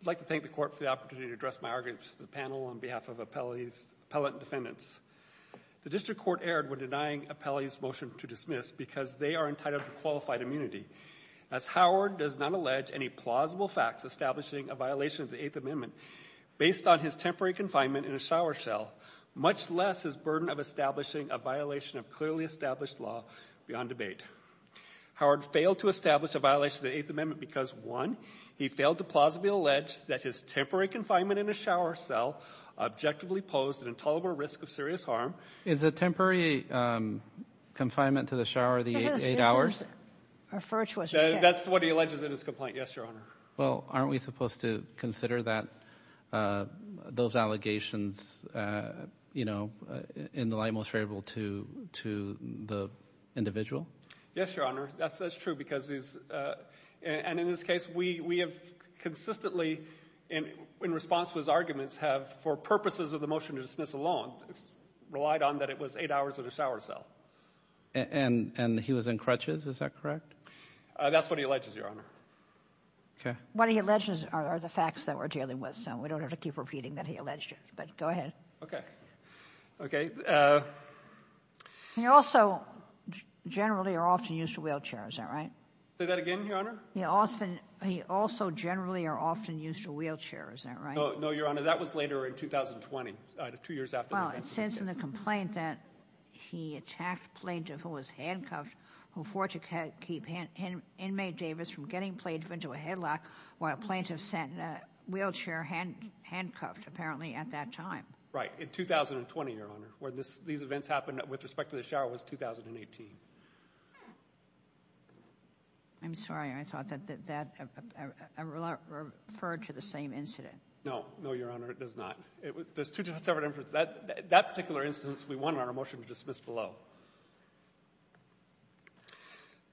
I'd like to thank the court for the opportunity to address my arguments to the panel on behalf of appellate defendants. The district court erred when denying appellate's motion to dismiss because they are entitled to qualified immunity. As Howard does not allege any plausible facts establishing a violation of the Eighth Amendment based on his temporary confinement in a shower shell, much less his burden of establishing a violation of clearly established law beyond debate. Howard failed to establish a violation of the Eighth Amendment because, one, he failed to plausibly allege that his temporary confinement in a shower shell objectively posed an intolerable risk of serious harm. Is a temporary confinement to the shower the eight hours? That's what he alleges in his complaint. Yes, Your Honor. Well, aren't we supposed to consider that those allegations, you know, in the light most favorable to the individual? Yes, Your Honor. That's true because these — and in this case, we have consistently, in response to his arguments, have, for purposes of the motion to dismiss alone, relied on that it was eight hours in a shower shell. And he was in crutches, is that correct? That's what he alleges, Your Honor. Okay. What he alleges are the facts that were dealing with, so we don't have to keep repeating that he alleged it, but go ahead. Okay. Okay. He also generally or often used a wheelchair, is that right? Say that again, Your Honor? He also generally or often used a wheelchair, is that right? No, Your Honor. That was later in 2020, two years after he was convicted. Well, it says in the complaint that he attacked a plaintiff who was handcuffed, who fought to keep inmate Davis from getting played into a headlock while a plaintiff sent a wheelchair handcuffed, apparently at that time. Right. In 2020, Your Honor, where these events happened with respect to the shower was 2018. I'm sorry. I thought that that referred to the same incident. No. No, Your Honor, it does not. There's two separate incidents. That particular instance, we want our motion to dismiss below.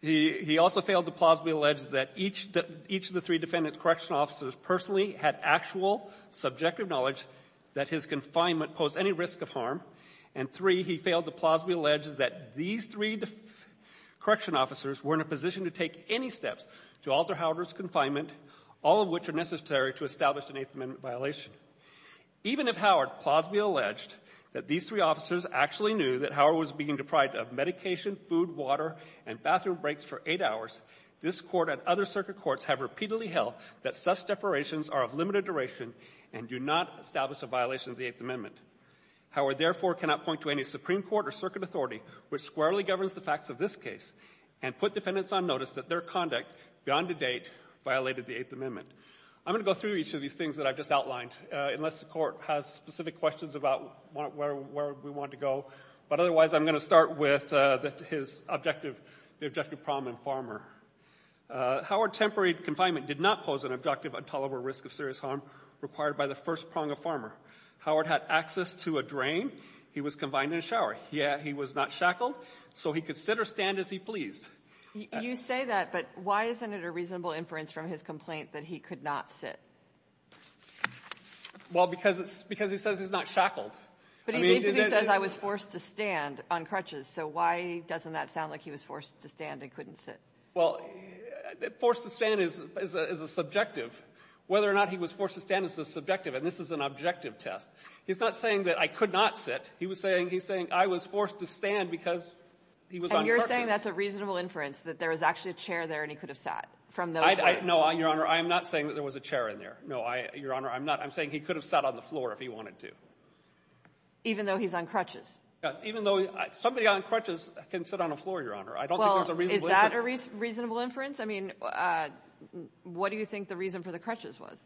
He also failed to plausibly allege that each of the three defendant's correctional officers personally had actual subjective knowledge that his confinement posed any risk of harm. And three, he failed to plausibly allege that these three correctional officers were in a position to take any steps to alter Howard's confinement, all of which are necessary to establish an Eighth Amendment violation. Even if Howard plausibly alleged that these three officers actually knew that Howard was being deprived of medication, food, water, and bathroom breaks for eight hours, this Court and other circuit courts have repeatedly held that such separations are of limited duration and do not establish a violation of the Eighth Amendment. Howard, therefore, cannot point to any Supreme Court or circuit authority which squarely governs the facts of this case and put defendants on notice that their conduct, beyond the date, violated the Eighth Amendment. I'm going to go through each of these things that I've just outlined, unless the Court has specific questions about where we want to go. But otherwise, I'm going to start with the objective problem in Farmer. Howard's temporary confinement did not pose an objective intolerable risk of serious harm required by the first prong of Farmer. Howard had access to a drain. He was confined in a shower, yet he was not shackled. So he could sit or stand as he pleased. You say that, but why isn't it a reasonable inference from his complaint that he could not sit? Well, because he says he's not shackled. But he basically says, I was forced to stand on crutches. So why doesn't that sound like he was forced to stand and couldn't sit? Well, forced to stand is a subjective. Whether or not he was forced to stand is a subjective. And this is an objective test. He's not saying that I could not sit. He was saying he's saying I was forced to stand because he was on crutches. And you're saying that's a reasonable inference, that there was actually a chair there and he could have sat from those chairs? No, Your Honor. I am not saying that there was a chair in there. No, Your Honor, I'm not. I'm saying he could have sat on the floor if he wanted to. Even though he's on crutches? Yes, even though somebody on crutches can sit on a floor, Your Honor. I don't think there's a reasonable inference. Well, is that a reasonable inference? I mean, what do you think the reason for the crutches was?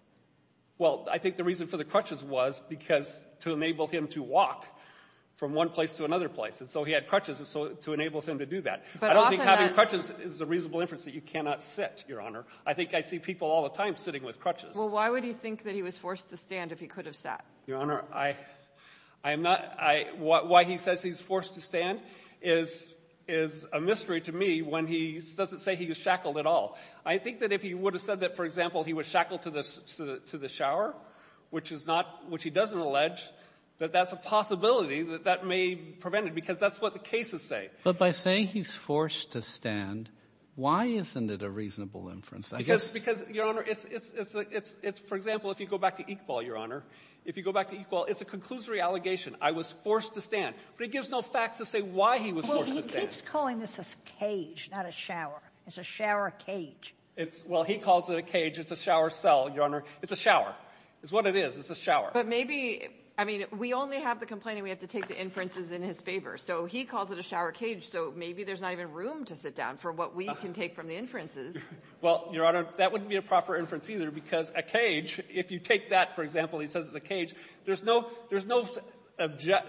Well, I think the reason for the crutches was because to enable him to walk from one place to another place. And so he had crutches to enable him to do that. But I don't think having crutches is a reasonable inference that you cannot sit, Your Honor. I think I see people all the time sitting with crutches. Well, why would he think that he was forced to stand if he could have sat? Your Honor, why he says he's forced to stand is a mystery to me when he doesn't say he was shackled at all. I think that if he would have said that, for example, he was shackled to the shower, which he doesn't allege, that that's a possibility that that may prevent it because that's what the cases say. But by saying he's forced to stand, why isn't it a reasonable inference? Because, Your Honor, for example, if you go back to Iqbal, Your Honor, if you go back to Iqbal, it's a conclusory allegation. I was forced to stand. But it gives no facts to say why he was forced to stand. Well, he keeps calling this a cage, not a shower. It's a shower cage. It's – well, he calls it a cage. It's a shower cell, Your Honor. It's a shower. It's what it is. It's a shower. But maybe – I mean, we only have the complaint and we have to take the inferences in his favor. So he calls it a shower cage. So maybe there's not even room to sit down for what we can take from the inferences. Well, Your Honor, that wouldn't be a proper inference either because a cage, if you take that, for example, he says it's a cage, there's no – there's no –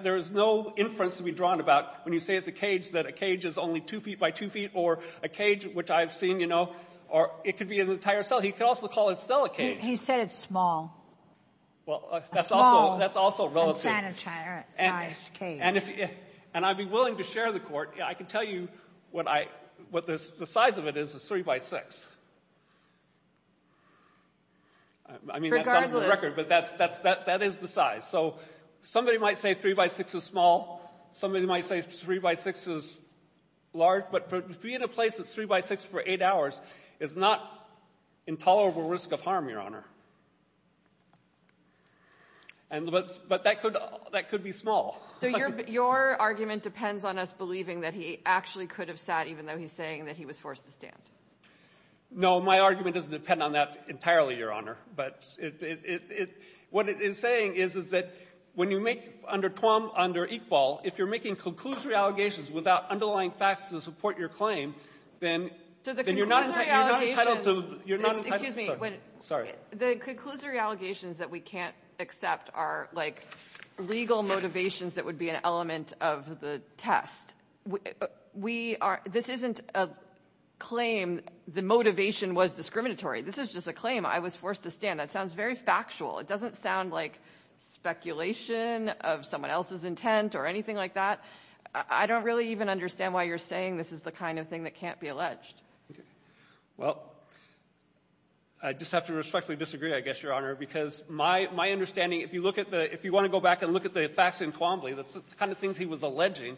there's no inference to be drawn about when you say it's a cage that a cage is only two feet by two feet or a cage, which I've seen, you know, or it could be an entire cell. He could also call his cell a cage. He said it's small. Well, that's also – that's also relative. A small, unsanitarized cage. And if – and I'd be willing to share the court. I can tell you what I – what the size of it is. It's three by six. I mean, that's on the record. But that's – that's – that is the size. So somebody might say three by six is small. Somebody might say three by six is large. But for – to be in a place that's three by six for eight hours is not intolerable risk of harm, Your Honor. And – but that could – that could be small. So your – your argument depends on us believing that he actually could have sat even though he's saying that he was forced to stand. No. My argument doesn't depend on that entirely, Your Honor. But it – it – it – what it is saying is, is that when you make – under Tuam, under Iqbal, if you're making conclusory allegations without underlying facts to support your claim, then you're not entitled to – you're not entitled to – Excuse me. Sorry. The conclusory allegations that we can't accept are like legal motivations that would be an element of the test. We are – this isn't a claim the motivation was discriminatory. This is just a claim. I was forced to stand. That sounds very factual. It doesn't sound like speculation of someone else's intent or anything like that. I don't really even understand why you're saying this is the kind of thing that can't be alleged. Well, I just have to respectfully disagree, I guess, Your Honor, because my – my understanding, if you look at the – if you want to go back and look at the facts in Tuambley, the kind of things he was alleging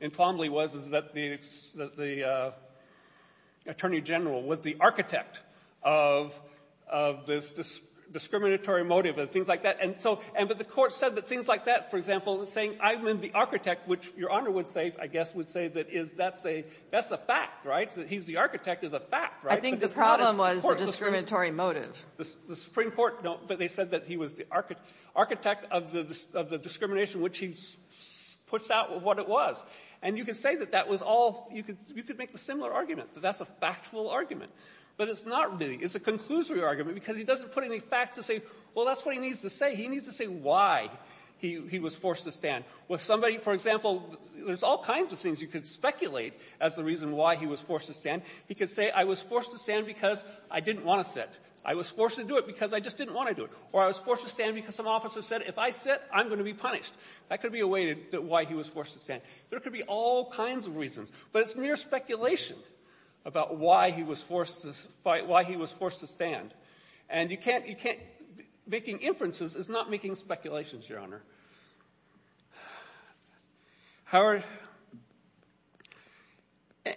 in Tuambley was, is that the – that the Attorney General was the architect of – of this discriminatory motive and things like that. And so – and that the Court said that things like that, for example, saying I'm the architect, which Your Honor would say, I guess, would say that is – that's a – that's a fact, right, that he's the architect is a fact, right? I think the problem was the discriminatory motive. The Supreme Court – no, but they said that he was the architect of the – of the discrimination, which he puts out what it was. And you can say that that was all – you could – you could make a similar argument, that that's a factual argument. But it's not really. It's a conclusory argument because he doesn't put any facts to say, well, that's what he needs to say. He needs to say why he – he was forced to stand. With somebody, for example, there's all kinds of things you could speculate as the reason why he was forced to stand. He could say I was forced to stand because I didn't want to sit. I was forced to do it because I just didn't want to do it. Or I was forced to stand because some officer said if I sit, I'm going to be punished. That could be a way to – why he was forced to stand. There could be all kinds of reasons. But it's mere speculation about why he was forced to fight – why he was forced to And you can't – you can't – making inferences is not making speculations, Your Honor. Howard –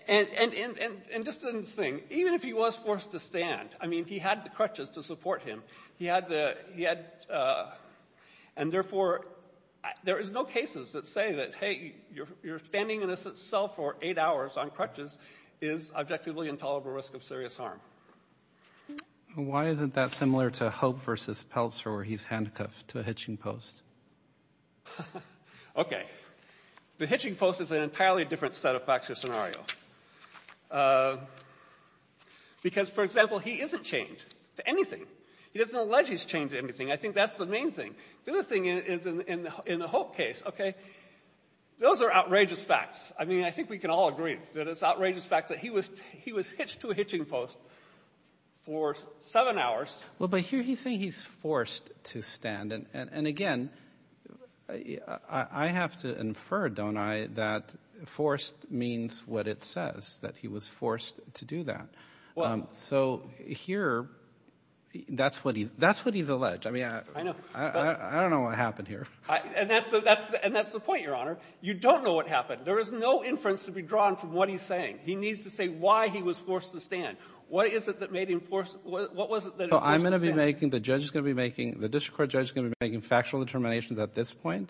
and just one thing. Even if he was forced to stand, I mean, he had the crutches to support him. He had the – he had – and therefore, there is no cases that say that, hey, you're standing in a cell for eight hours on crutches is objectively intolerable risk of serious harm. Why isn't that similar to Hope versus Peltzer where he's handcuffed to a hitching post? Okay. The hitching post is an entirely different set of facts or scenario. Because, for example, he isn't chained to anything. He doesn't allege he's chained to anything. I think that's the main thing. The other thing is in the Hope case, okay, those are outrageous facts. I mean, I think we can all agree that it's an outrageous fact that he was – he was hitched to a hitching post for seven hours. Roberts – well, but here he's saying he's forced to stand. And again, I have to infer, don't I, that forced means what it says, that he was forced to do that. So here, that's what he's – that's what he's alleged. I mean, I don't know what happened here. And that's the point, Your Honor. You don't know what happened. There is no inference to be drawn from what he's saying. He needs to say why he was forced to stand. What is it that made him forced – what was it that made him forced to stand? So I'm going to be making – the judge is going to be making – the district court judge is going to be making factual determinations at this point?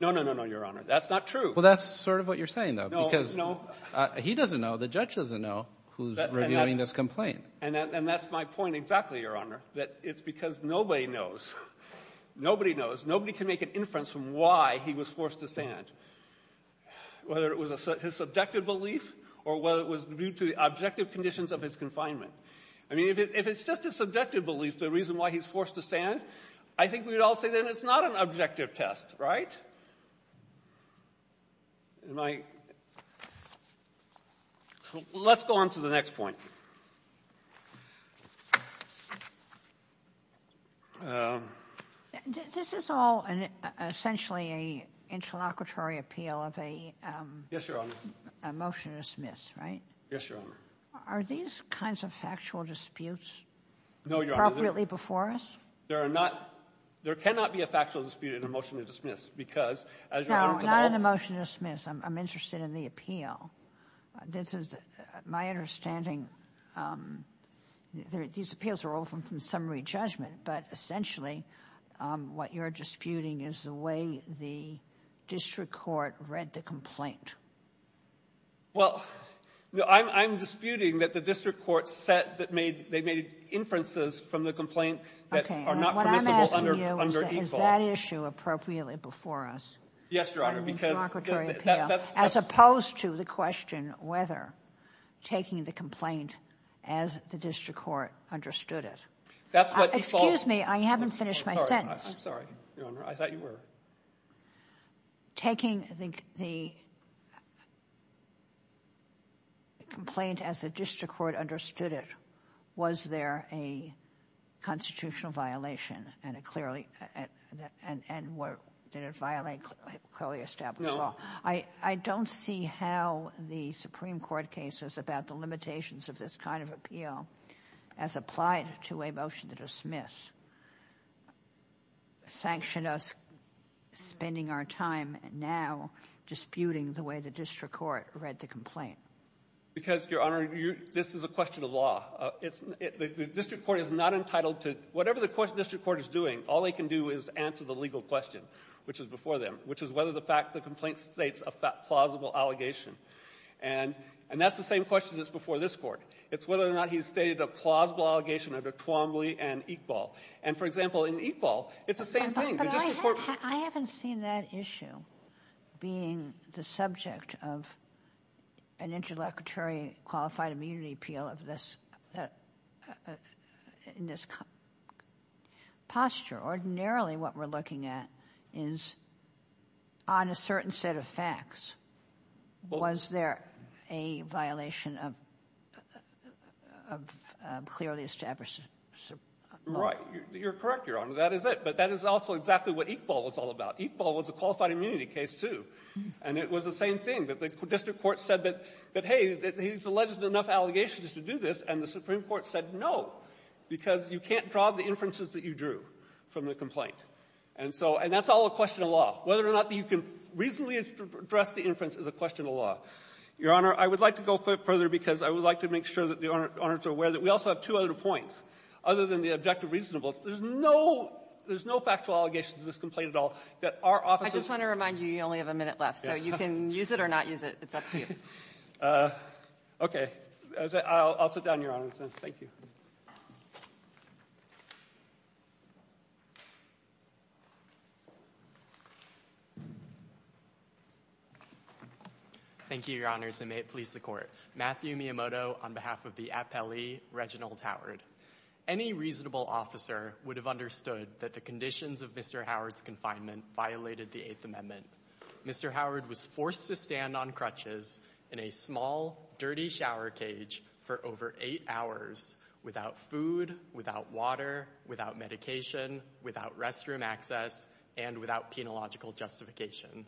No, no, no, no, Your Honor. That's not true. Well, that's sort of what you're saying, though, because he doesn't know. The judge doesn't know who's reviewing this complaint. And that's my point exactly, Your Honor, that it's because nobody knows. Nobody knows. Nobody can make an inference from why he was forced to stand, whether it was his subjective belief or whether it was due to the objective conditions of his confinement. I mean, if it's just his subjective belief, the reason why he's forced to stand, I think we'd all say then it's not an objective test, right? Am I – let's go on to the next point. This is all essentially an interlocutory appeal of a motion to dismiss, right? Are these kinds of factual disputes appropriately before us? There are not – there cannot be a factual dispute in a motion to dismiss, because, as you're going to find out – No, not in a motion to dismiss. I'm interested in the appeal. This is my understanding. These appeals are often from summary judgment. But essentially what you're disputing is the way the district court read the complaint. Well, I'm disputing that the district court said that made – they made inferences from the complaint that are not permissible under ESALT. What I'm asking you is, is that issue appropriately before us? Yes, Your Honor, because that's – As opposed to the question whether taking the complaint as the district court understood it. That's what he saw. Excuse me. I haven't finished my sentence. I'm sorry, Your Honor. I thought you were. Taking, I think, the complaint as the district court understood it, was there a constitutional violation, and it clearly – and what – did it violate clearly established law? I don't see how the Supreme Court cases about the limitations of this kind of appeal as applied to a motion to dismiss sanctioned us spending our time now disputing the way the district court read the complaint. Because, Your Honor, this is a question of law. The district court is not entitled to – whatever the district court is doing, all they can do is answer the legal question, which is before them, which is whether the fact the complaint states a plausible allegation. And that's the same question that's before this Court. It's whether or not he's stated a plausible allegation under Twombly and Iqbal. And, for example, in Iqbal, it's the same thing. The district court – I haven't seen that issue being the subject of an interlocutory qualified immunity appeal of this – in this posture. Ordinarily, what we're looking at is on a certain set of facts, was there a violation of a clearly established – Right. You're correct, Your Honor. That is it. But that is also exactly what Iqbal was all about. Iqbal was a qualified immunity case, too. And it was the same thing, that the district court said that, hey, he's alleged enough allegations to do this, and the Supreme Court said no, because you can't draw the inferences that you drew from the complaint. And so – and that's all a question of law, whether or not you can reasonably address the inference is a question of law. Your Honor, I would like to go further, because I would like to make sure that the Owners are aware that we also have two other points, other than the objective reasonableness. There's no – there's no factual allegation to this complaint at all that our office is – I just want to remind you, you only have a minute left. So you can use it or not use it. It's up to you. Okay. I'll sit down, Your Honor. Thank you. Thank you, Your Honors, and may it please the Court. Matthew Miyamoto on behalf of the Appellee, Reginald Howard. Any reasonable officer would have understood that the conditions of Mr. Howard's confinement violated the Eighth Amendment. Mr. Howard was forced to stand on crutches in a small, dirty shower cage for over eight hours without food, without water, without medication, without restroom access, and without penological justification.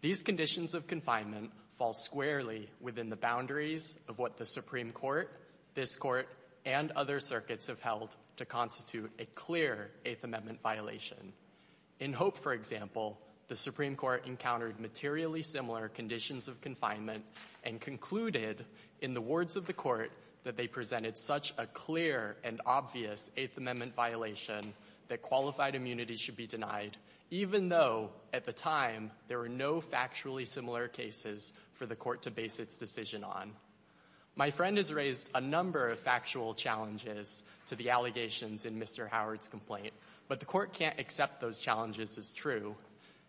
These conditions of confinement fall squarely within the boundaries of what the Supreme Court, this Court, and other circuits have held to constitute a clear Eighth Amendment violation. In Hope, for example, the Supreme Court encountered materially similar conditions of confinement and concluded in the words of the Court that they presented such a clear and obvious Eighth Amendment violation that qualified immunity should be denied, even though at the time there were no factually similar cases for the Court to base its decision on. My friend has raised a number of factual challenges to the allegations in Mr. Howard's complaint, but the Court can't accept those challenges as true.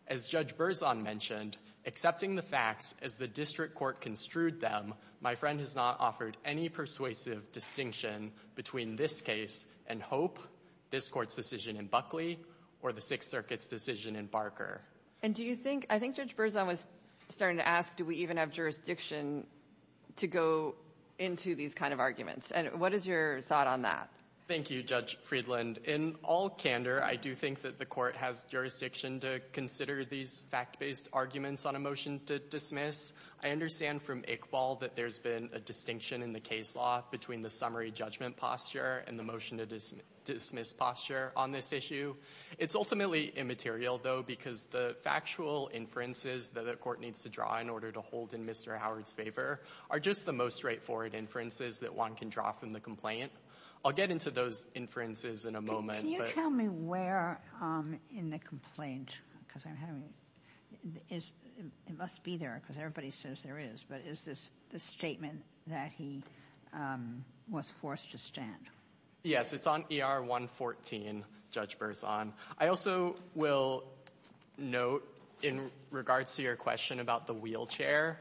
As Judge Berzon mentioned, accepting the facts as the district court construed them, my friend has not offered any persuasive distinction between this case and Hope, this Court's decision in Buckley, or the Sixth Circuit's decision in Barker. And do you think — I think Judge Berzon was starting to ask, do we even have jurisdiction to go into these kind of arguments? And what is your thought on that? Thank you, Judge Friedland. In all candor, I do think that the Court has jurisdiction to consider these fact-based arguments on a motion to dismiss. I understand from Iqbal that there's been a distinction in the case law between the summary judgment posture and the motion to dismiss posture on this issue. It's ultimately immaterial, though, because the factual inferences that the Court needs to draw in order to hold in Mr. Howard's favor are just the most straightforward inferences that one can draw from the complaint. I'll get into those inferences in a moment. Can you tell me where in the complaint, because I'm having — it must be there, because everybody says there is, but is this the statement that he was forced to stand? Yes. It's on ER 114, Judge Berzon. I also will note, in regards to your question about the wheelchair,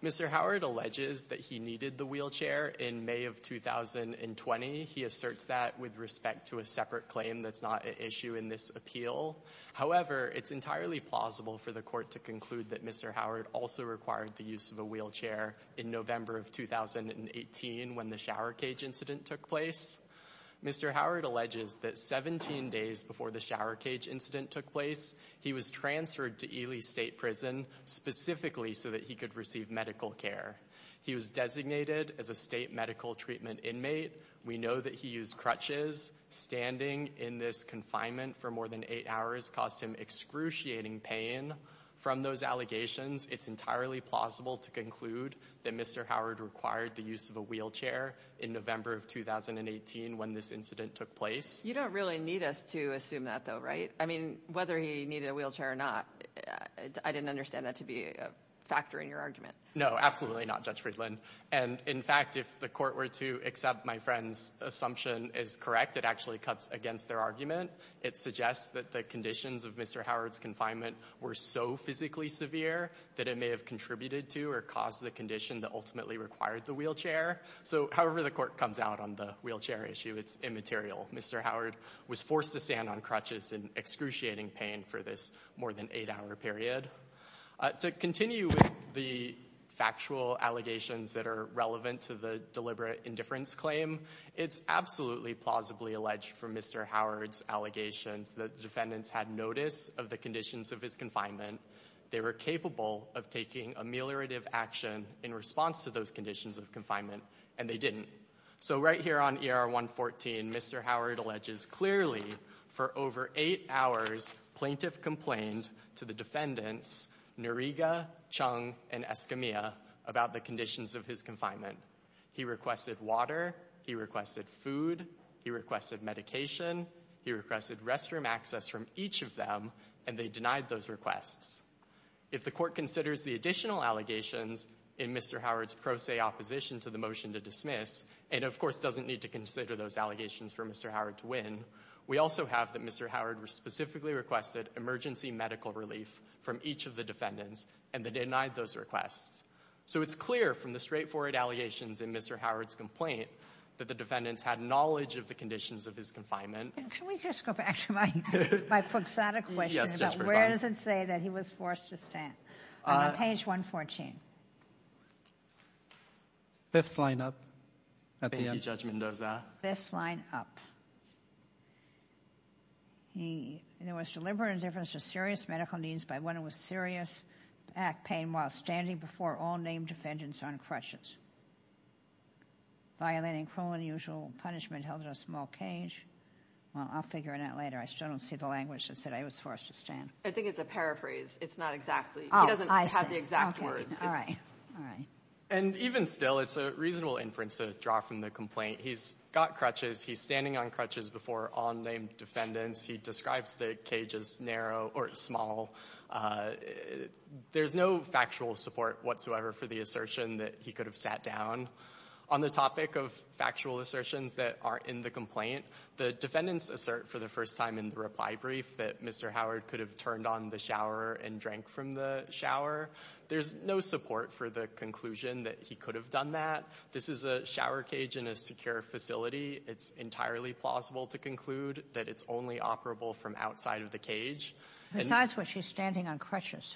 Mr. Howard alleges that he needed the wheelchair in May of 2020. He asserts that with respect to a separate claim that's not an issue in this appeal. However, it's entirely plausible for the Court to conclude that Mr. Howard also required the use of a wheelchair in November of 2018 when the shower cage incident took place. Mr. Howard alleges that 17 days before the shower cage incident took place, he was transferred to Ely State Prison specifically so that he could receive medical care. He was designated as a state medical treatment inmate. We know that he used crutches. Standing in this confinement for more than eight hours caused him excruciating pain. From those allegations, it's entirely plausible to conclude that Mr. Howard required the use of a wheelchair in November of 2018 when this incident took place. You don't really need us to assume that, though, right? I mean, whether he needed a wheelchair or not, I didn't understand that to be a factor in your argument. No, absolutely not, Judge Friedland. And in fact, if the Court were to accept my friend's assumption as correct, it actually cuts against their argument. It suggests that the conditions of Mr. Howard's confinement were so physically severe that it may have contributed to or caused the condition that ultimately required the wheelchair. So however the Court comes out on the wheelchair issue, it's immaterial. Mr. Howard was forced to stand on crutches in excruciating pain for this more than eight-hour period. To continue with the factual allegations that are relevant to the deliberate indifference claim, it's absolutely plausibly alleged from Mr. Howard's allegations that defendants had notice of the conditions of his confinement, they were capable of taking ameliorative action in response to those conditions of confinement, and they didn't. So right here on ER 114, Mr. Howard alleges clearly for over eight hours, plaintiff complained to the defendants, Noriega, Chung, and Escamilla, about the conditions of his confinement. He requested water, he requested food, he requested medication, he requested restroom access from each of them, and they denied those requests. If the Court considers the additional allegations in Mr. Howard's pro se opposition to the motion to dismiss, and of course doesn't need to consider those allegations for Mr. Howard to win, we also have that Mr. Howard specifically requested emergency medical relief from each of the defendants, and they denied those requests. So it's clear from the straightforward allegations in Mr. Howard's complaint that the defendants had knowledge of the conditions of his confinement. Can we just go back to my fixated question about where does it say that he was forced to stand? On page 114. Fifth line up at the end. Thank you Judge Mendoza. Fifth line up. He, there was deliberate indifference to serious medical needs by one who was serious at pain while standing before all named defendants on crutches. Violating cruel and unusual punishment held in a small cage. Well, I'll figure it out later. I still don't see the language that said I was forced to stand. I think it's a paraphrase. It's not exactly, he doesn't have the exact words. All right. All right. And even still, it's a reasonable inference to draw from the complaint. He's got crutches. He's standing on crutches before all named defendants. He describes the cage as narrow or small. There's no factual support whatsoever for the assertion that he could have sat down. On the topic of factual assertions that are in the complaint, the defendants assert for the first time in the reply brief that Mr. Howard could have turned on the shower and drank from the shower. There's no support for the conclusion that he could have done that. This is a shower cage in a secure facility. It's entirely plausible to conclude that it's only operable from outside of the cage. Besides what she's standing on crutches.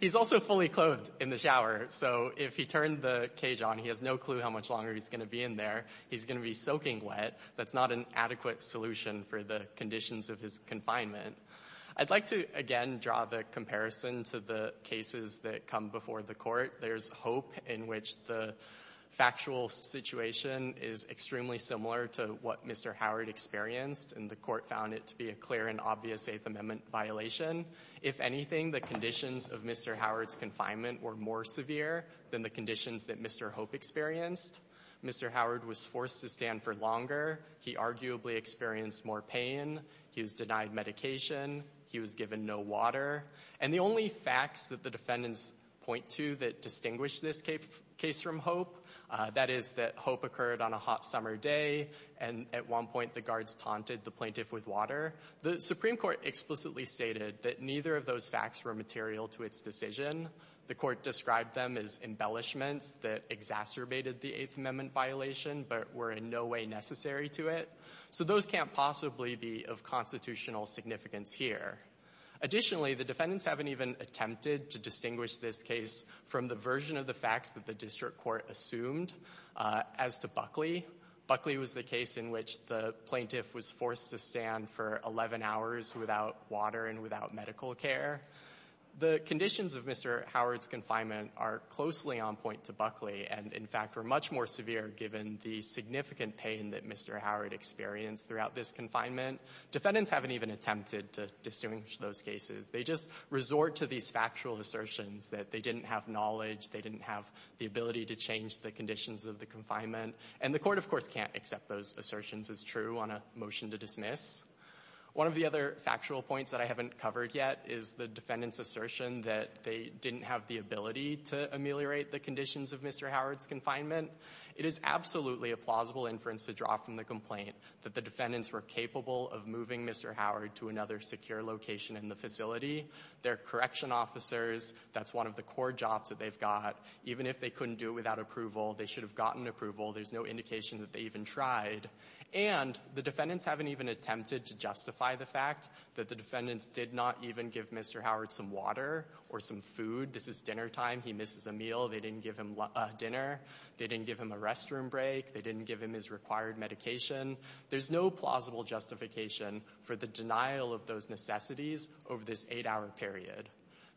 He's also fully clothed in the shower. So if he turned the cage on, he has no clue how much longer he's going to be in there. He's going to be soaking wet. That's not an adequate solution for the conditions of his confinement. I'd like to, again, draw the comparison to the cases that come before the court. There's hope in which the factual situation is extremely similar to what Mr. Howard experienced, and the court found it to be a clear and obvious Eighth Amendment violation. If anything, the conditions of Mr. Howard's confinement were more severe than the conditions that Mr. Hope experienced. Mr. Howard was forced to stand for longer. He arguably experienced more pain. He was denied medication. He was given no water. And the only facts that the defendants point to that distinguish this case from hope, that is that hope occurred on a hot summer day, and at one point the guards taunted the plaintiff with water. The Supreme Court explicitly stated that neither of those facts were material to its decision. The court described them as embellishments that exacerbated the Eighth Amendment violation, but were in no way necessary to it. So those can't possibly be of constitutional significance here. Additionally, the defendants haven't even attempted to distinguish this case from the version of the facts that the district court assumed as to Buckley. Buckley was the case in which the plaintiff was forced to stand for 11 hours without water and without medical care. The conditions of Mr. Howard's confinement are closely on point to Buckley, and in fact were much more severe given the significant pain that Mr. Howard experienced throughout this confinement. Defendants haven't even attempted to distinguish those cases. They just resort to these factual assertions that they didn't have knowledge, they didn't have the ability to change the conditions of the confinement. And the court, of course, can't accept those assertions as true on a motion to dismiss. One of the other factual points that I haven't covered yet is the defendant's assertion that they didn't have the ability to ameliorate the conditions of Mr. Howard's confinement. It is absolutely a plausible inference to draw from the complaint that the defendants were capable of moving Mr. Howard to another secure location in the facility. They're correction officers. That's one of the core jobs that they've got. Even if they couldn't do it without approval, they should have gotten approval. There's no indication that they even tried. And the defendants haven't even attempted to justify the fact that the defendants did not even give Mr. Howard some water or some food. This is dinner time. He misses a meal. They didn't give him a dinner. They didn't give him a restroom break. They didn't give him his required medication. There's no plausible justification for the denial of those necessities over this eight-hour period.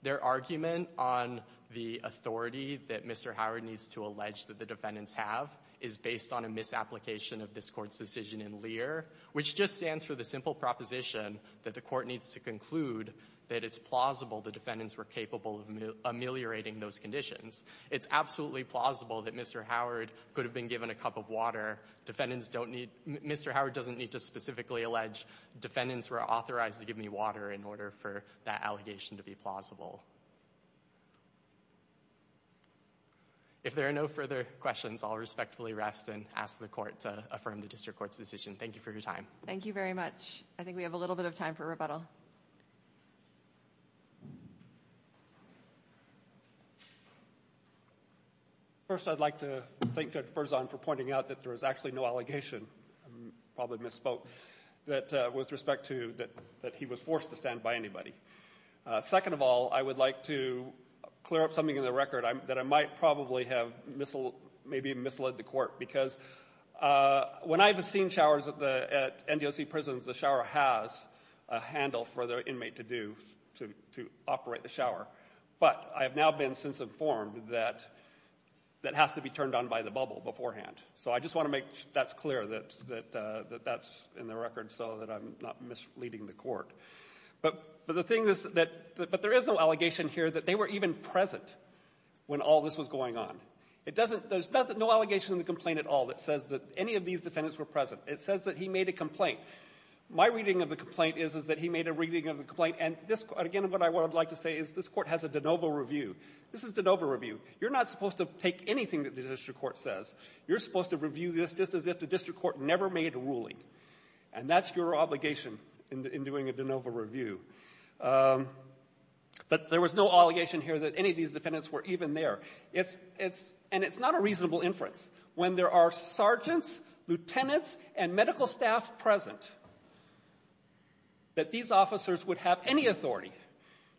Their argument on the authority that Mr. Howard needs to allege that the defendants have is based on a misapplication of this court's decision in Lear, which just stands for the simple proposition that the court needs to conclude that it's plausible the defendants were capable of ameliorating those conditions. It's absolutely plausible that Mr. Howard could have been given a cup of water. Defendants don't need... Mr. Howard doesn't need to specifically allege defendants were authorized to give me water in order for that allegation to be plausible. If there are no further questions, I'll respectfully rest and ask the court to affirm the district court's decision. Thank you for your time. Thank you very much. I think we have a little bit of time for rebuttal. First, I'd like to thank Judge Berzon for pointing out that there was actually no allegation, probably misspoke, with respect to that he was forced to stand by anybody. Second of all, I would like to clear up something in the record that I might probably have maybe misled the court, because when I have seen showers at NDOC prisons, the shower has a handle for the inmate to do, to operate the shower. But I have now been since informed that that has to be turned on by the bubble beforehand. So I just want to make that's clear that that's in the record so that I'm not misleading the court. But the thing is that... But there is no allegation here that they were even present when all this was going on. It doesn't... There's no allegation in the complaint at all that says that any of these defendants were present. It says that he made a complaint. My reading of the complaint is that he made a reading of the complaint. And again, what I would like to say is this court has a de novo review. This is de novo review. You're not supposed to take anything that the district court says. You're supposed to review this just as if the district court never made a ruling. And that's your obligation in doing a de novo review. But there was no allegation here that any of these defendants were even there. And it's not a reasonable inference. When there are sergeants, lieutenants, and medical staff present, that these officers would have any authority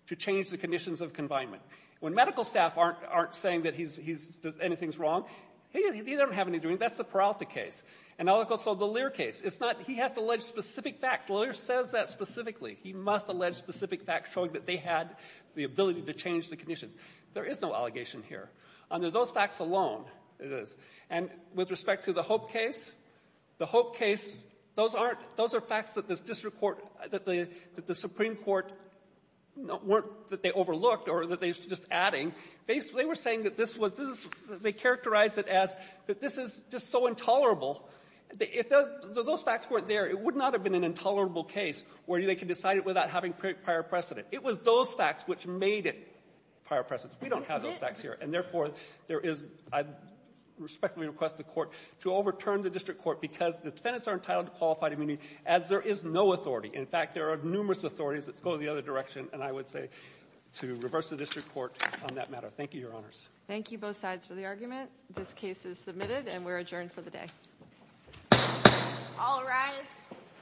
to change the conditions of confinement. When medical staff aren't saying that he's... anything's wrong, he doesn't have anything. That's the Peralta case. And also the Lear case. It's not... He has to allege specific facts. Lear says that specifically. He must allege specific facts showing that they had the ability to change the conditions. There is no allegation here. Under those facts alone, it is. And with respect to the Hope case, the Hope case, those aren't... those are facts that the district court... that the Supreme Court weren't... that they overlooked or that they were just adding. Basically, they were saying that this was... this is... they characterized it as that this is just so intolerable. If those facts weren't there, it would not have been an intolerable case where they could decide it without having prior precedent. It was those facts which made it prior precedent. We don't have those facts here. And therefore, there is... I respectfully request the Court to overturn the district court because the defendants are entitled to qualified immunity as there is no authority. In fact, there are numerous authorities that go the other direction, and I would say to reverse the district court on that matter. Thank you, Your Honors. Thank you, both sides, for the argument. This case is submitted, and we're adjourned for the day. All rise.